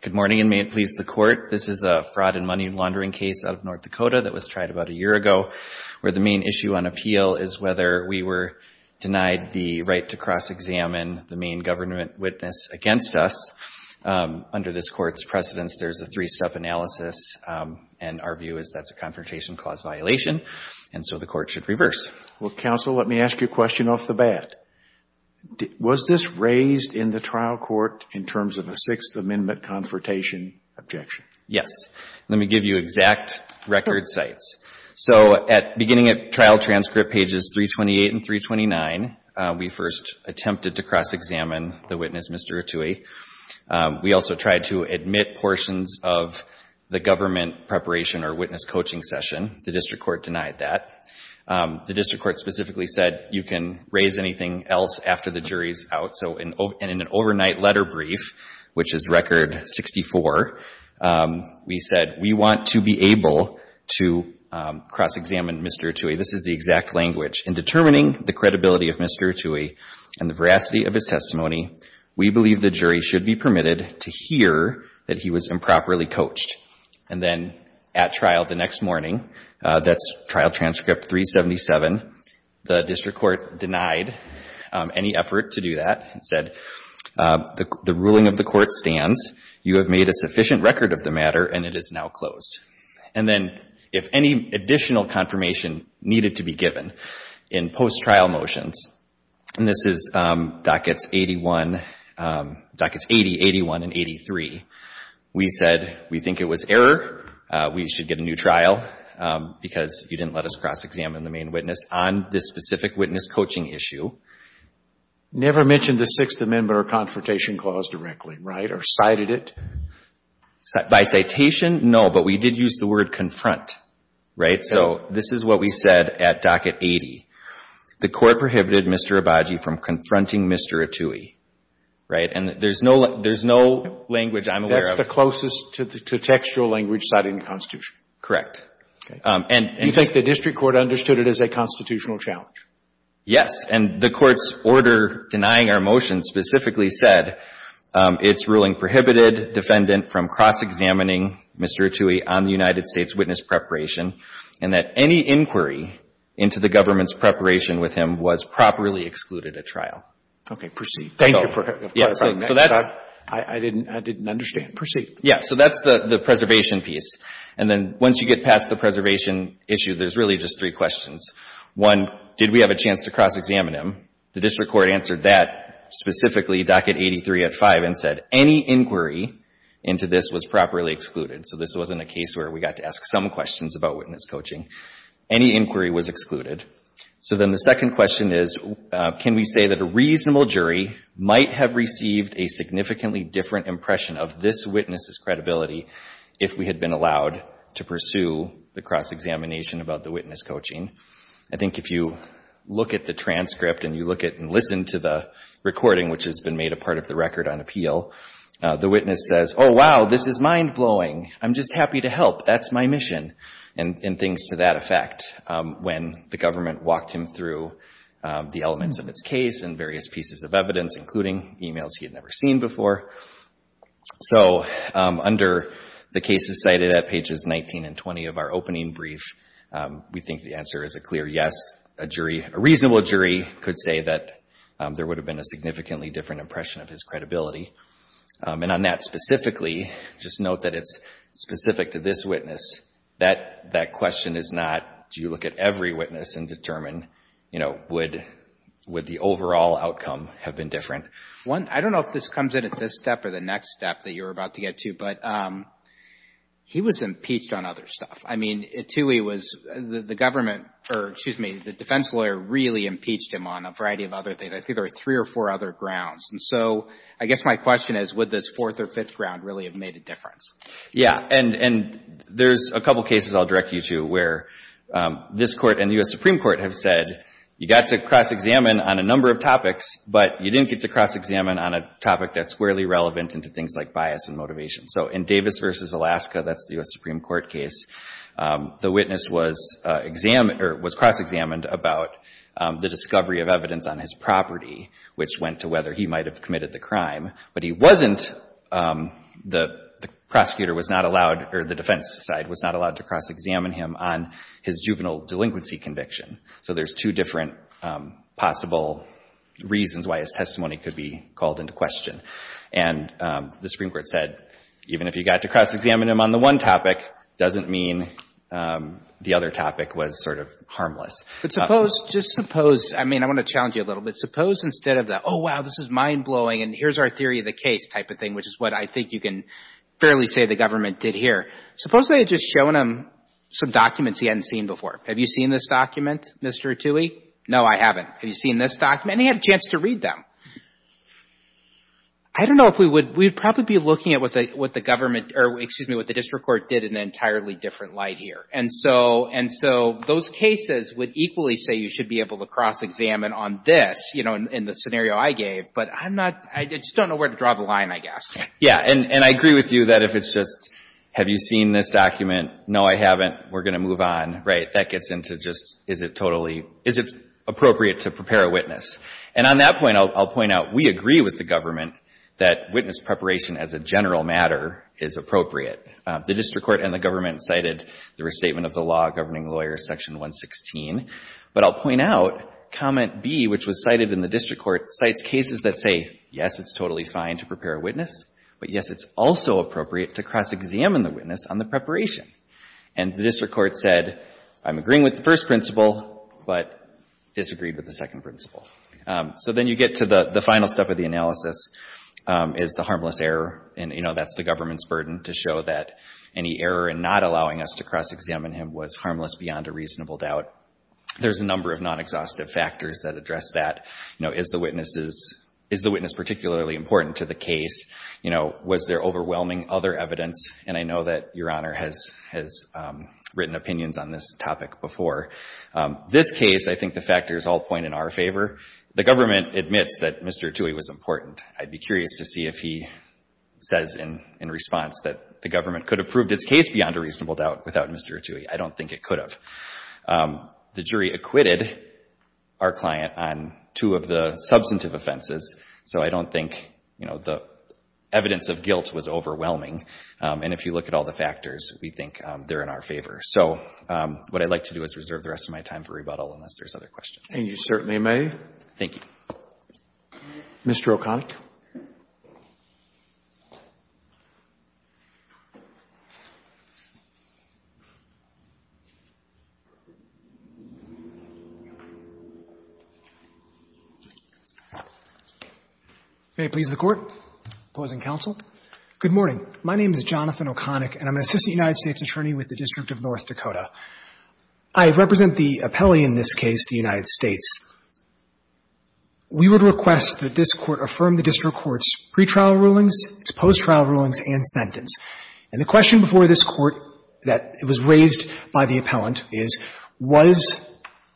Good morning, and may it please the Court, this is a fraud and money laundering case out of North Dakota that was tried about a year ago, where the main issue on appeal is whether we were denied the right to cross-examine the main government witness against us. Under this Court's precedence, there's a three-step analysis, and our view is that's a Confrontation Clause violation, and so the Court should reverse. Well, Counsel, let me ask you a question off the bat. Was this raised in the trial court in terms of a Sixth Amendment Confrontation objection? Yes. Let me give you exact record sites. So, beginning at Trial Transcript pages 328 and 329, we first attempted to cross-examine the witness, Mr. Attui. We also tried to admit portions of the government preparation or witness coaching session. The District Court denied that. The District Court specifically said, you can raise anything else after the jury's out. So, in an overnight letter brief, which is Record 64, we said, we want to be able to cross-examine Mr. Attui. This is the exact language. In determining the credibility of Mr. Attui and the veracity of his testimony, we believe the jury should be permitted to infer that he was improperly coached. And then, at trial the next morning, that's Trial Transcript 377, the District Court denied any effort to do that and said, the ruling of the Court stands. You have made a sufficient record of the matter, and it is now closed. And then, if any additional confirmation needed to be given in post-trial motions, and this is Dockets 80, 81, and 83, we said, we think it was error. We should get a new trial because you didn't let us cross-examine the main witness on this specific witness coaching issue. Never mentioned the Sixth Amendment or Confrontation Clause directly, right, or cited it? By citation, no, but we did use the word confront, right? So, this is what we said at Docket 80. The Court prohibited Mr. Abadji from confronting Mr. Attui, right? And there's no language I'm aware of. That's the closest to textual language cited in the Constitution? Correct. Okay. Do you think the District Court understood it as a constitutional challenge? Yes. And the Court's order denying our motion specifically said, it's ruling prohibited defendant from cross-examining Mr. Attui on the United States witness preparation, and that any inquiry into the government's preparation with him was properly excluded at trial. Okay. Proceed. Thank you for clarifying that. I didn't understand. Proceed. Yeah. So, that's the preservation piece. And then once you get past the preservation issue, there's really just three questions. One, did we have a chance to cross-examine him? The District Court answered that specifically, Docket 83 at 5, and said, any inquiry into this was properly excluded. So, this wasn't a case where we got to ask some questions about witness coaching. Any inquiry was excluded. So then the second question is, can we say that a reasonable jury might have received a significantly different impression of this witness's credibility if we had been allowed to pursue the cross-examination about the witness coaching? I think if you look at the transcript and you look at and listen to the recording, which has been made a part of the record on appeal, the witness says, oh, wow, this is mind-blowing. I'm just happy to help. That's my mission. And things to that effect when the government walked him through the elements of his case and various pieces of evidence, including emails he had never seen before. So, under the cases cited at pages 19 and 20 of our opening brief, we think the answer is a clear yes. A reasonable jury could say that there would have been a significantly different impression of his credibility. And on that specifically, just note that it's specific to this witness. That question is not, do you look at every witness and determine, you know, would the overall outcome have been different? One, I don't know if this comes in at this step or the next step that you're about to get to, but he was impeached on other stuff. I mean, Toohey was, the government, or excuse me, the defense lawyer really impeached him on a variety of other things. I think there were three or four other grounds. And so, I guess my question is, would this fourth or fifth ground really have made a difference? Yeah. And there's a couple cases I'll direct you to where this court and the U.S. Supreme Court have said you got to cross-examine on a number of topics, but you didn't get to cross-examine on a topic that's squarely relevant into things like bias and motivation. So, in Davis v. Alaska, that's the U.S. Supreme Court case, the witness was cross-examined about the discovery of evidence on his property, which went to whether he might have committed the crime, but he wasn't, the prosecutor was not allowed, or the defense side was not allowed to cross-examine him on his juvenile delinquency conviction. So, there's two different possible reasons why his testimony could be called into question. And the Supreme Court said even if you got to cross-examine him on the one topic, doesn't mean the other topic was sort of harmless. But suppose, just suppose, I mean, I want to challenge you a little bit. Suppose instead of the, oh, wow, this is mind-blowing, and here's our theory of the case type of thing, which is what I think you can fairly say the government did here. Suppose they had just shown him some documents he hadn't seen before. Have you seen this document, Mr. Attui? No, I haven't. Have you seen this document? And he had a chance to read them. I don't know if we would, we'd probably be looking at what the government, or excuse me, what the district court did in an entirely different light here. And so, and so, those cases would equally say you should be able to cross-examine on this, you know, in the scenario I gave. But I'm not, I just don't know where to draw the line, I guess. Yeah. And I agree with you that if it's just, have you seen this document? No, I haven't. We're going to move on. Right? That gets into just, is it totally, is it appropriate to prepare a witness? And on that point, I'll point out, we agree with the government that witness preparation as a general matter is appropriate. The district court and the government cited the Restatement of the Law Governing Lawyers, Section 116. But I'll point out, Comment B, which was cited in the district court, cites cases that say, yes, it's totally fine to prepare a witness, but, yes, it's also appropriate to cross-examine the witness on the preparation. And the district court said, I'm agreeing with the first principle, but disagreed with the second principle. So then you get to the final step of the analysis, is the harmless error. And, you know, that's the government's burden, to show that any error in not allowing us to cross-examine him was harmless beyond a reasonable doubt. There's a number of non-exhaustive factors that address that. You know, is the witness particularly important to the case? You know, was there overwhelming other evidence? And I know that Your Honor has written opinions on this topic before. This case, I think the factors all point in our favor. The government admits that Mr. Rattouille was important. I'd be curious to see if he says in response that the government could have proved its case beyond a reasonable doubt without Mr. Rattouille. I don't think it could have. The jury acquitted our client on two of the substantive offenses. So I don't think, you know, the evidence of guilt was overwhelming. And if you look at all the factors, we think they're in our favor. So what I'd like to do is reserve the rest of my time for rebuttal unless there's other questions. And you certainly may. Thank you. Mr. O'Connick. May it please the Court. Opposing counsel. Good morning. My name is Jonathan O'Connick, and I'm an assistant United States attorney with the District of North Dakota. I represent the appellee in this case, the United States. We would request that this Court affirm the district court's pretrial rulings, its post-trial rulings, and sentence. And the question before this Court that was raised by the appellant is, was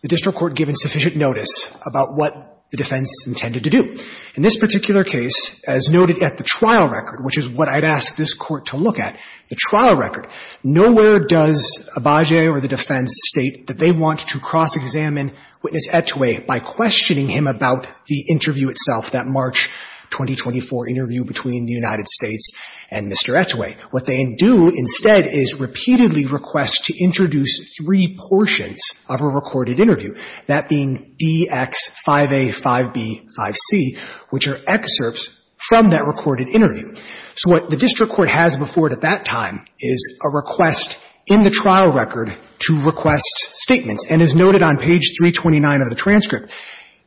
the district court given sufficient notice about what the defense intended to do? In this particular case, as noted at the trial record, which is what I'd ask this Court to look at, the trial record, nowhere does Abagge or the defense state that they want to cross-examine Witness Etowah by questioning him about the interview itself, that March 2024 interview between the United States and Mr. Etowah. What they do instead is repeatedly request to introduce three portions of a recorded interview, that being D-X-5A-5B-5C, which are excerpts from that recorded interview. So what the district court has before it at that time is a request in the trial record to request statements, and as noted on page 329 of the transcript,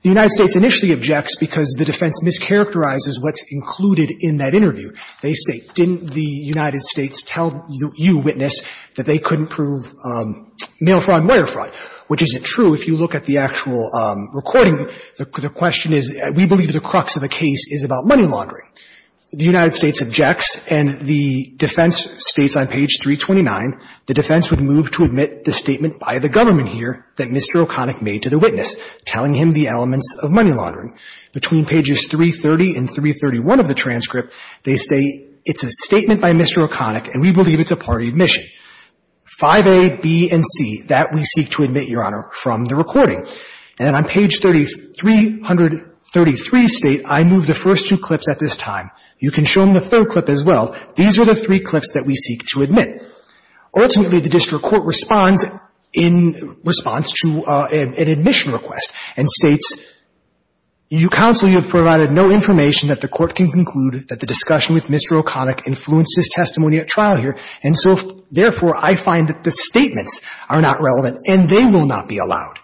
the United States initially objects because the defense mischaracterizes what's included in that interview. They say, didn't the United States tell you, Witness, that they couldn't prove male fraud and lawyer fraud, which isn't true if you look at the actual recording. The question is, we believe the crux of the case is about money laundering. The United States objects, and the defense states on page 329, the defense would move to admit the statement by the government here that Mr. O'Connick made to the witness, telling him the elements of money laundering. Between pages 330 and 331 of the transcript, they say, it's a statement by Mr. O'Connick, and we believe it's a party admission. 5A, B, and C, that we seek to admit, Your Honor, from the recording, and on page 333, state, I move the first two clips at this time. You can show them the third clip as well. These are the three clips that we seek to admit. Ultimately, the district court responds in response to an admission request and states, you counsel, you have provided no information that the court can conclude that the discussion with Mr. O'Connick influenced his testimony at trial here, and so, therefore, I find that the statements are not relevant and they will not be allowed.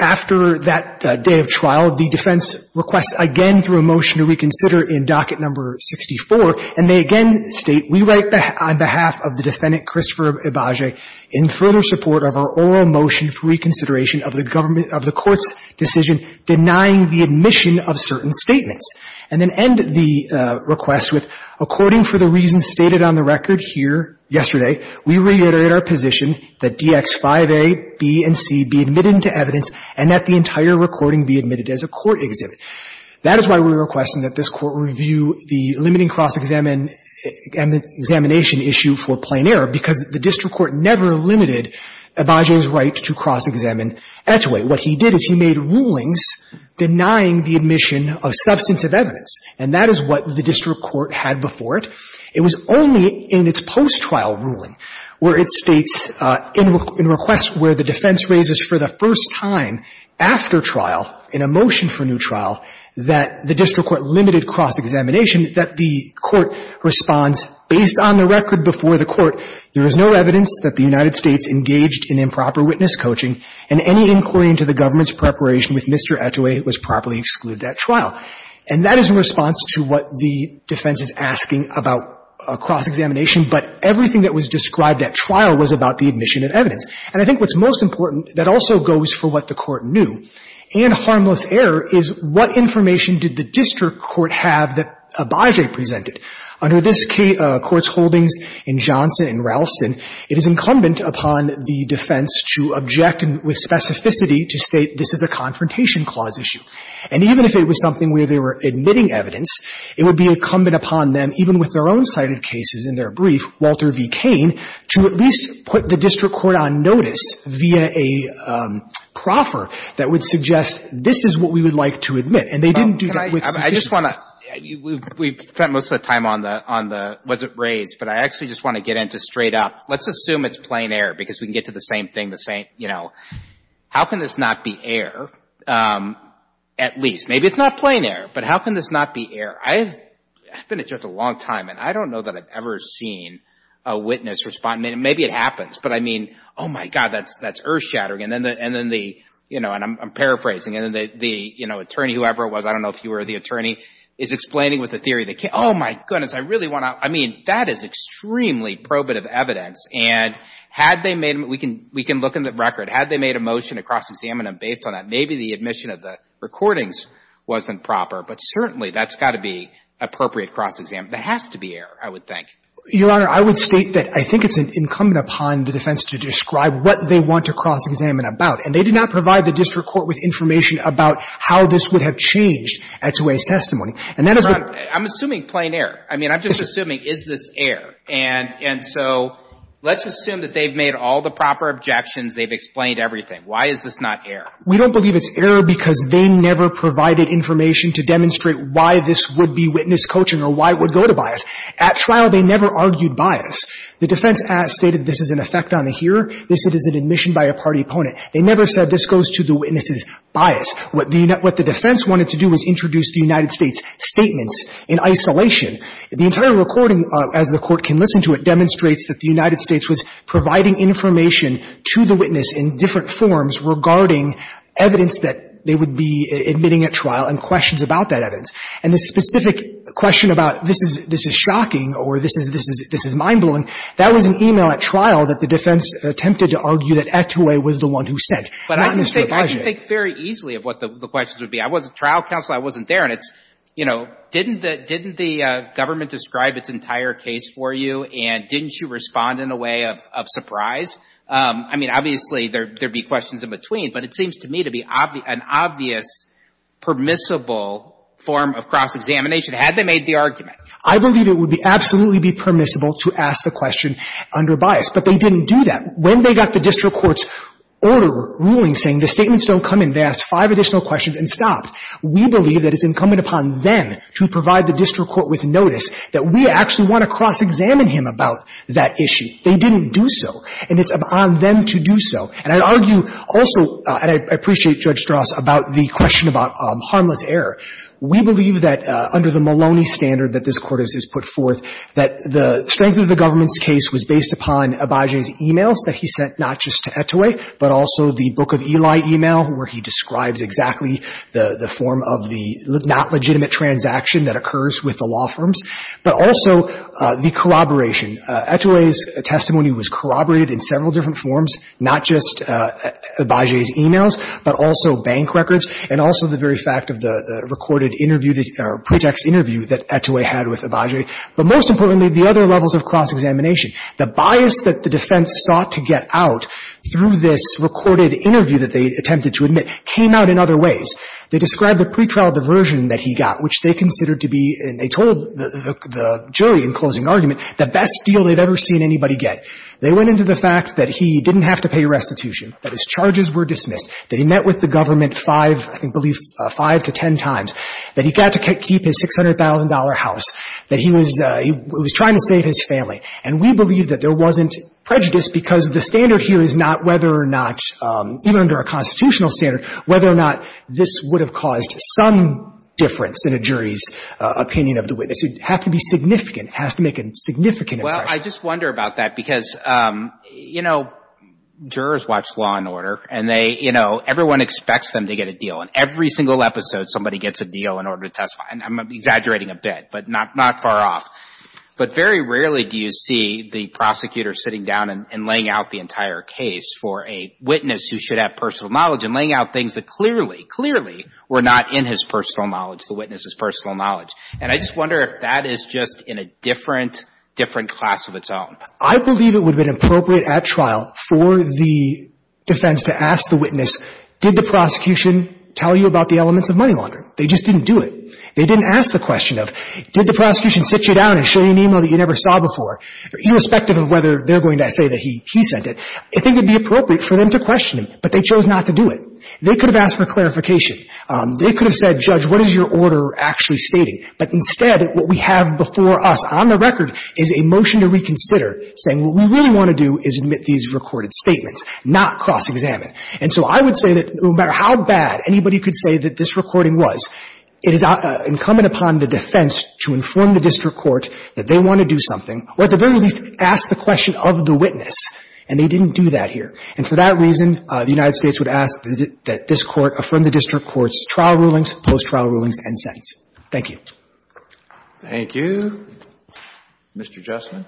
After that day of trial, the defense requests again for a motion to reconsider in docket number 64, and they again state, we write on behalf of the defendant, Christopher Ibage, in further support of our oral motion for reconsideration of the government of the court's decision denying the admission of certain statements, and then end the request with, according for the reasons stated on the record here yesterday, we reiterate our position that Dx5a, b, and c be admitted into evidence and that the entire recording be admitted as a court exhibit. That is why we request that this Court review the limiting cross-examination issue for plain error, because the district court never limited Ibage's right to cross-examine Etowah. What he did is he made rulings denying the admission of substantive evidence, and that is what the district court had before it. It was only in its post-trial ruling where it states in requests where the defense raises for the first time after trial, in a motion for new trial, that the district court limited cross-examination, that the court responds, based on the record before the court, there is no evidence that the United States engaged in improper witness coaching, and any inquiry into the government's preparation with Mr. Etowah was properly excluded at trial. And that is in response to what the defense is asking about cross-examination, but everything that was described at trial was about the admission of evidence. And I think what's most important that also goes for what the Court knew, and harmless error, is what information did the district court have that Ibage presented? Under this Court's holdings in Johnson and Ralston, it is incumbent upon the defense to object with specificity to state this is a confrontation clause issue. And even if it was something where they were admitting evidence, it would be incumbent upon them, even with their own cited cases in their brief, Walter v. Cain, to at least put the district court on notice via a proffer that would suggest this is what we would like to admit. And they didn't do that with specificity. I just want to — we've spent most of the time on the was it raised, but I actually just want to get into straight up. Let's assume it's plain error, because we can get to the same thing the same — you know, how can this not be error, at least? Maybe it's not plain error, but how can this not be error? I've been a judge a long time, and I don't know that I've ever seen a witness respond — maybe it happens, but I mean, oh, my God, that's earth-shattering. And then the — you know, and I'm paraphrasing. And then the, you know, attorney, whoever it was, I don't know if you were the attorney, is explaining with the theory that — oh, my goodness, I really want to — I mean, that is extremely probative evidence. And had they made — we can look in the record. Had they made a motion to cross-examine them based on that, maybe the admission of the recordings wasn't proper. But certainly, that's got to be appropriate cross-examination. There has to be error, I would think. Your Honor, I would state that I think it's incumbent upon the defense to describe what they want to cross-examine about. And they did not provide the district court with information about how this would have changed at Suez testimony. And that is what — I'm assuming plain error. I mean, I'm just assuming, is this error? And — and so let's assume that they've made all the proper objections. They've explained everything. Why is this not error? We don't believe it's error because they never provided information to demonstrate why this would be witness coaching or why it would go to bias. At trial, they never argued bias. The defense has stated this is an effect on the hearer. This is an admission by a party opponent. They never said this goes to the witness's bias. What the defense wanted to do was introduce the United States' statements in isolation. The entire recording, as the Court can listen to it, demonstrates that the United States was providing information to the witness in different forms regarding evidence that they would be admitting at trial and questions about that evidence. And the specific question about this is — this is shocking or this is — this is mind-blowing, that was an e-mail at trial that the defense attempted to argue that Etowah was the one who sent, not Mr. Abadge. I think very easily of what the questions would be. I was at trial counsel. I wasn't there. And it's, you know, didn't the — didn't the government describe its entire case for you? And didn't you respond in a way of — of surprise? I mean, obviously, there — there would be questions in between. But it seems to me to be an obvious, permissible form of cross-examination, had they made the argument. I believe it would be — absolutely be permissible to ask the question under bias. But they didn't do that. When they got the district court's order — ruling saying the statements don't come in, they asked five additional questions and stopped. We believe that it's incumbent upon them to provide the district court with notice that we actually want to cross-examine him about that issue. They didn't do so. And it's upon them to do so. And I'd argue also — and I appreciate Judge Strauss about the question about harmless error. We believe that under the Maloney standard that this Court has put forth, that the strength of the government's case was based upon Abadge's e-mails that he sent, not just to Etowah, but also the Book of Elias e-mail, where he describes exactly the — the form of the not-legitimate transaction that occurs with the law firms, but also the corroboration. Etowah's testimony was corroborated in several different forms, not just Abadge's e-mails, but also bank records, and also the very fact of the — the recorded interview — the pretext interview that Etowah had with Abadge. But most importantly, the other levels of cross-examination, the bias that the defense sought to get out through this recorded interview that they attempted to admit came out in other ways. They described the pretrial diversion that he got, which they considered to be — and they told the jury in closing argument the best deal they'd ever seen anybody get. They went into the fact that he didn't have to pay restitution, that his charges were dismissed, that he met with the government five — I believe five to ten times, that he got to keep his $600,000 house, that he was — he was trying to save his family. And we believe that there wasn't prejudice because the standard here is that the jury is not — whether or not — even under a constitutional standard, whether or not this would have caused some difference in a jury's opinion of the witness. It would have to be significant. It has to make a significant impression. Well, I just wonder about that because, you know, jurors watch Law & Order, and they — you know, everyone expects them to get a deal. And every single episode, somebody gets a deal in order to testify. And I'm exaggerating a bit, but not — not far off. But very rarely do you see the prosecutor sitting down and laying out the entire case for a witness who should have personal knowledge and laying out things that clearly, clearly were not in his personal knowledge, the witness's personal knowledge. And I just wonder if that is just in a different — different class of its own. I believe it would have been appropriate at trial for the defense to ask the witness, did the prosecution tell you about the elements of money laundering? They just didn't do it. They didn't ask the question of, did the prosecution sit you down and show you an e-mail that you never saw before, irrespective of whether they're going to say that he — he sent it. I think it would be appropriate for them to question him, but they chose not to do it. They could have asked for clarification. They could have said, Judge, what is your order actually stating? But instead, what we have before us on the record is a motion to reconsider, saying what we really want to do is admit these recorded statements, not cross-examine. And so I would say that no matter how bad anybody could say that this recording was, it is incumbent upon the defense to inform the district court that they want to do something, or at the very least, ask the question of the witness. And they didn't do that here. And for that reason, the United States would ask that this court affirm the district court's trial rulings, post-trial rulings, and sentence. Thank you. Thank you. Mr. Jussman?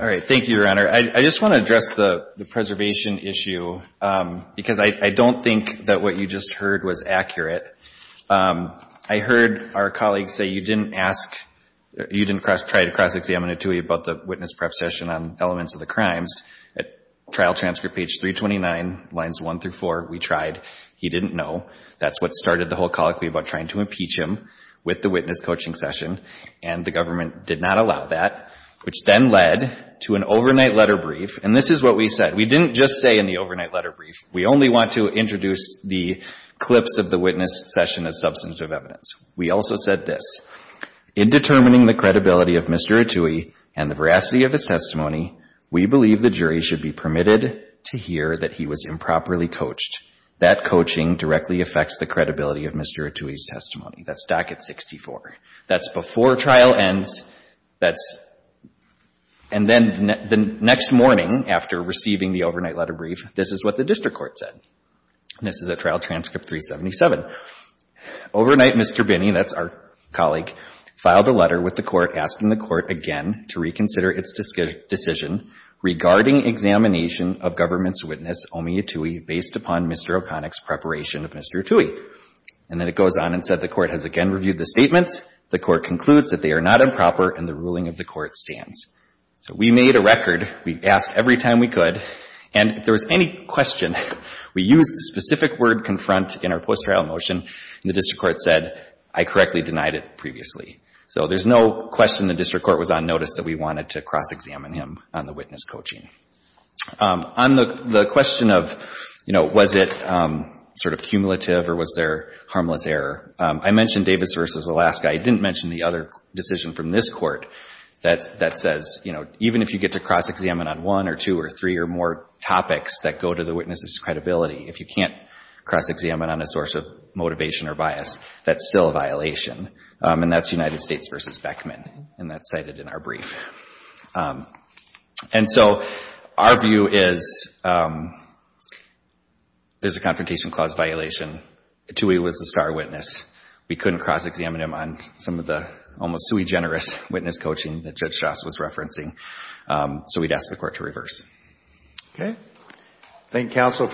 All right. Thank you, Your Honor. I just want to address the — the preservation issue, because I don't think that what you just heard was accurate. I heard our colleague say you didn't ask — you didn't cross-try to cross-examine Attui about the witness prep session on elements of the crimes. At trial transcript page 329, lines 1 through 4, we tried. He didn't know. That's what started the whole colloquy about trying to impeach him with the witness coaching session. And the government did not allow that, which then led to an overnight letter brief. And this is what we said. We didn't just say in the overnight letter brief, we only want to introduce the clips of the witness session as substantive evidence. We also said this, in determining the credibility of Mr. Attui and the veracity of his testimony, we believe the jury should be permitted to hear that he was improperly coached. That coaching directly affects the credibility of Mr. Attui's testimony. That's docket 64. That's before trial ends. That's — and then the next morning, after receiving the overnight letter brief, this is what the district court said. And this is at trial transcript 377. Overnight Mr. Binney, that's our colleague, filed a letter with the court asking the court again to reconsider its decision regarding examination of government's witness Omi Attui based upon Mr. O'Connick's preparation of Mr. Attui. And then it goes on and said the district court has again reviewed the statements. The court concludes that they are not improper and the ruling of the court stands. So we made a record. We asked every time we could. And if there was any question, we used the specific word confront in our post-trial motion. And the district court said, I correctly denied it previously. So there's no question the district court was on notice that we wanted to cross-examine him on the witness coaching. On the question of, you know, was it sort of cumulative or was there harmless error, I mentioned Davis v. Alaska. I didn't mention the other decision from this court that says, you know, even if you get to cross-examine on one or two or three or more topics that go to the witness's credibility, if you can't cross-examine on a source of motivation or bias, that's still a violation. And that's United States v. Beckman. And that's cited in our brief. And so, our view is there's a confrontation clause violation. Toohey was the star witness. We couldn't cross-examine him on some of the almost sui generis witness coaching that Judge Shost was referencing. So we'd ask the court to reverse. Okay. Thank you, counsel, for the time.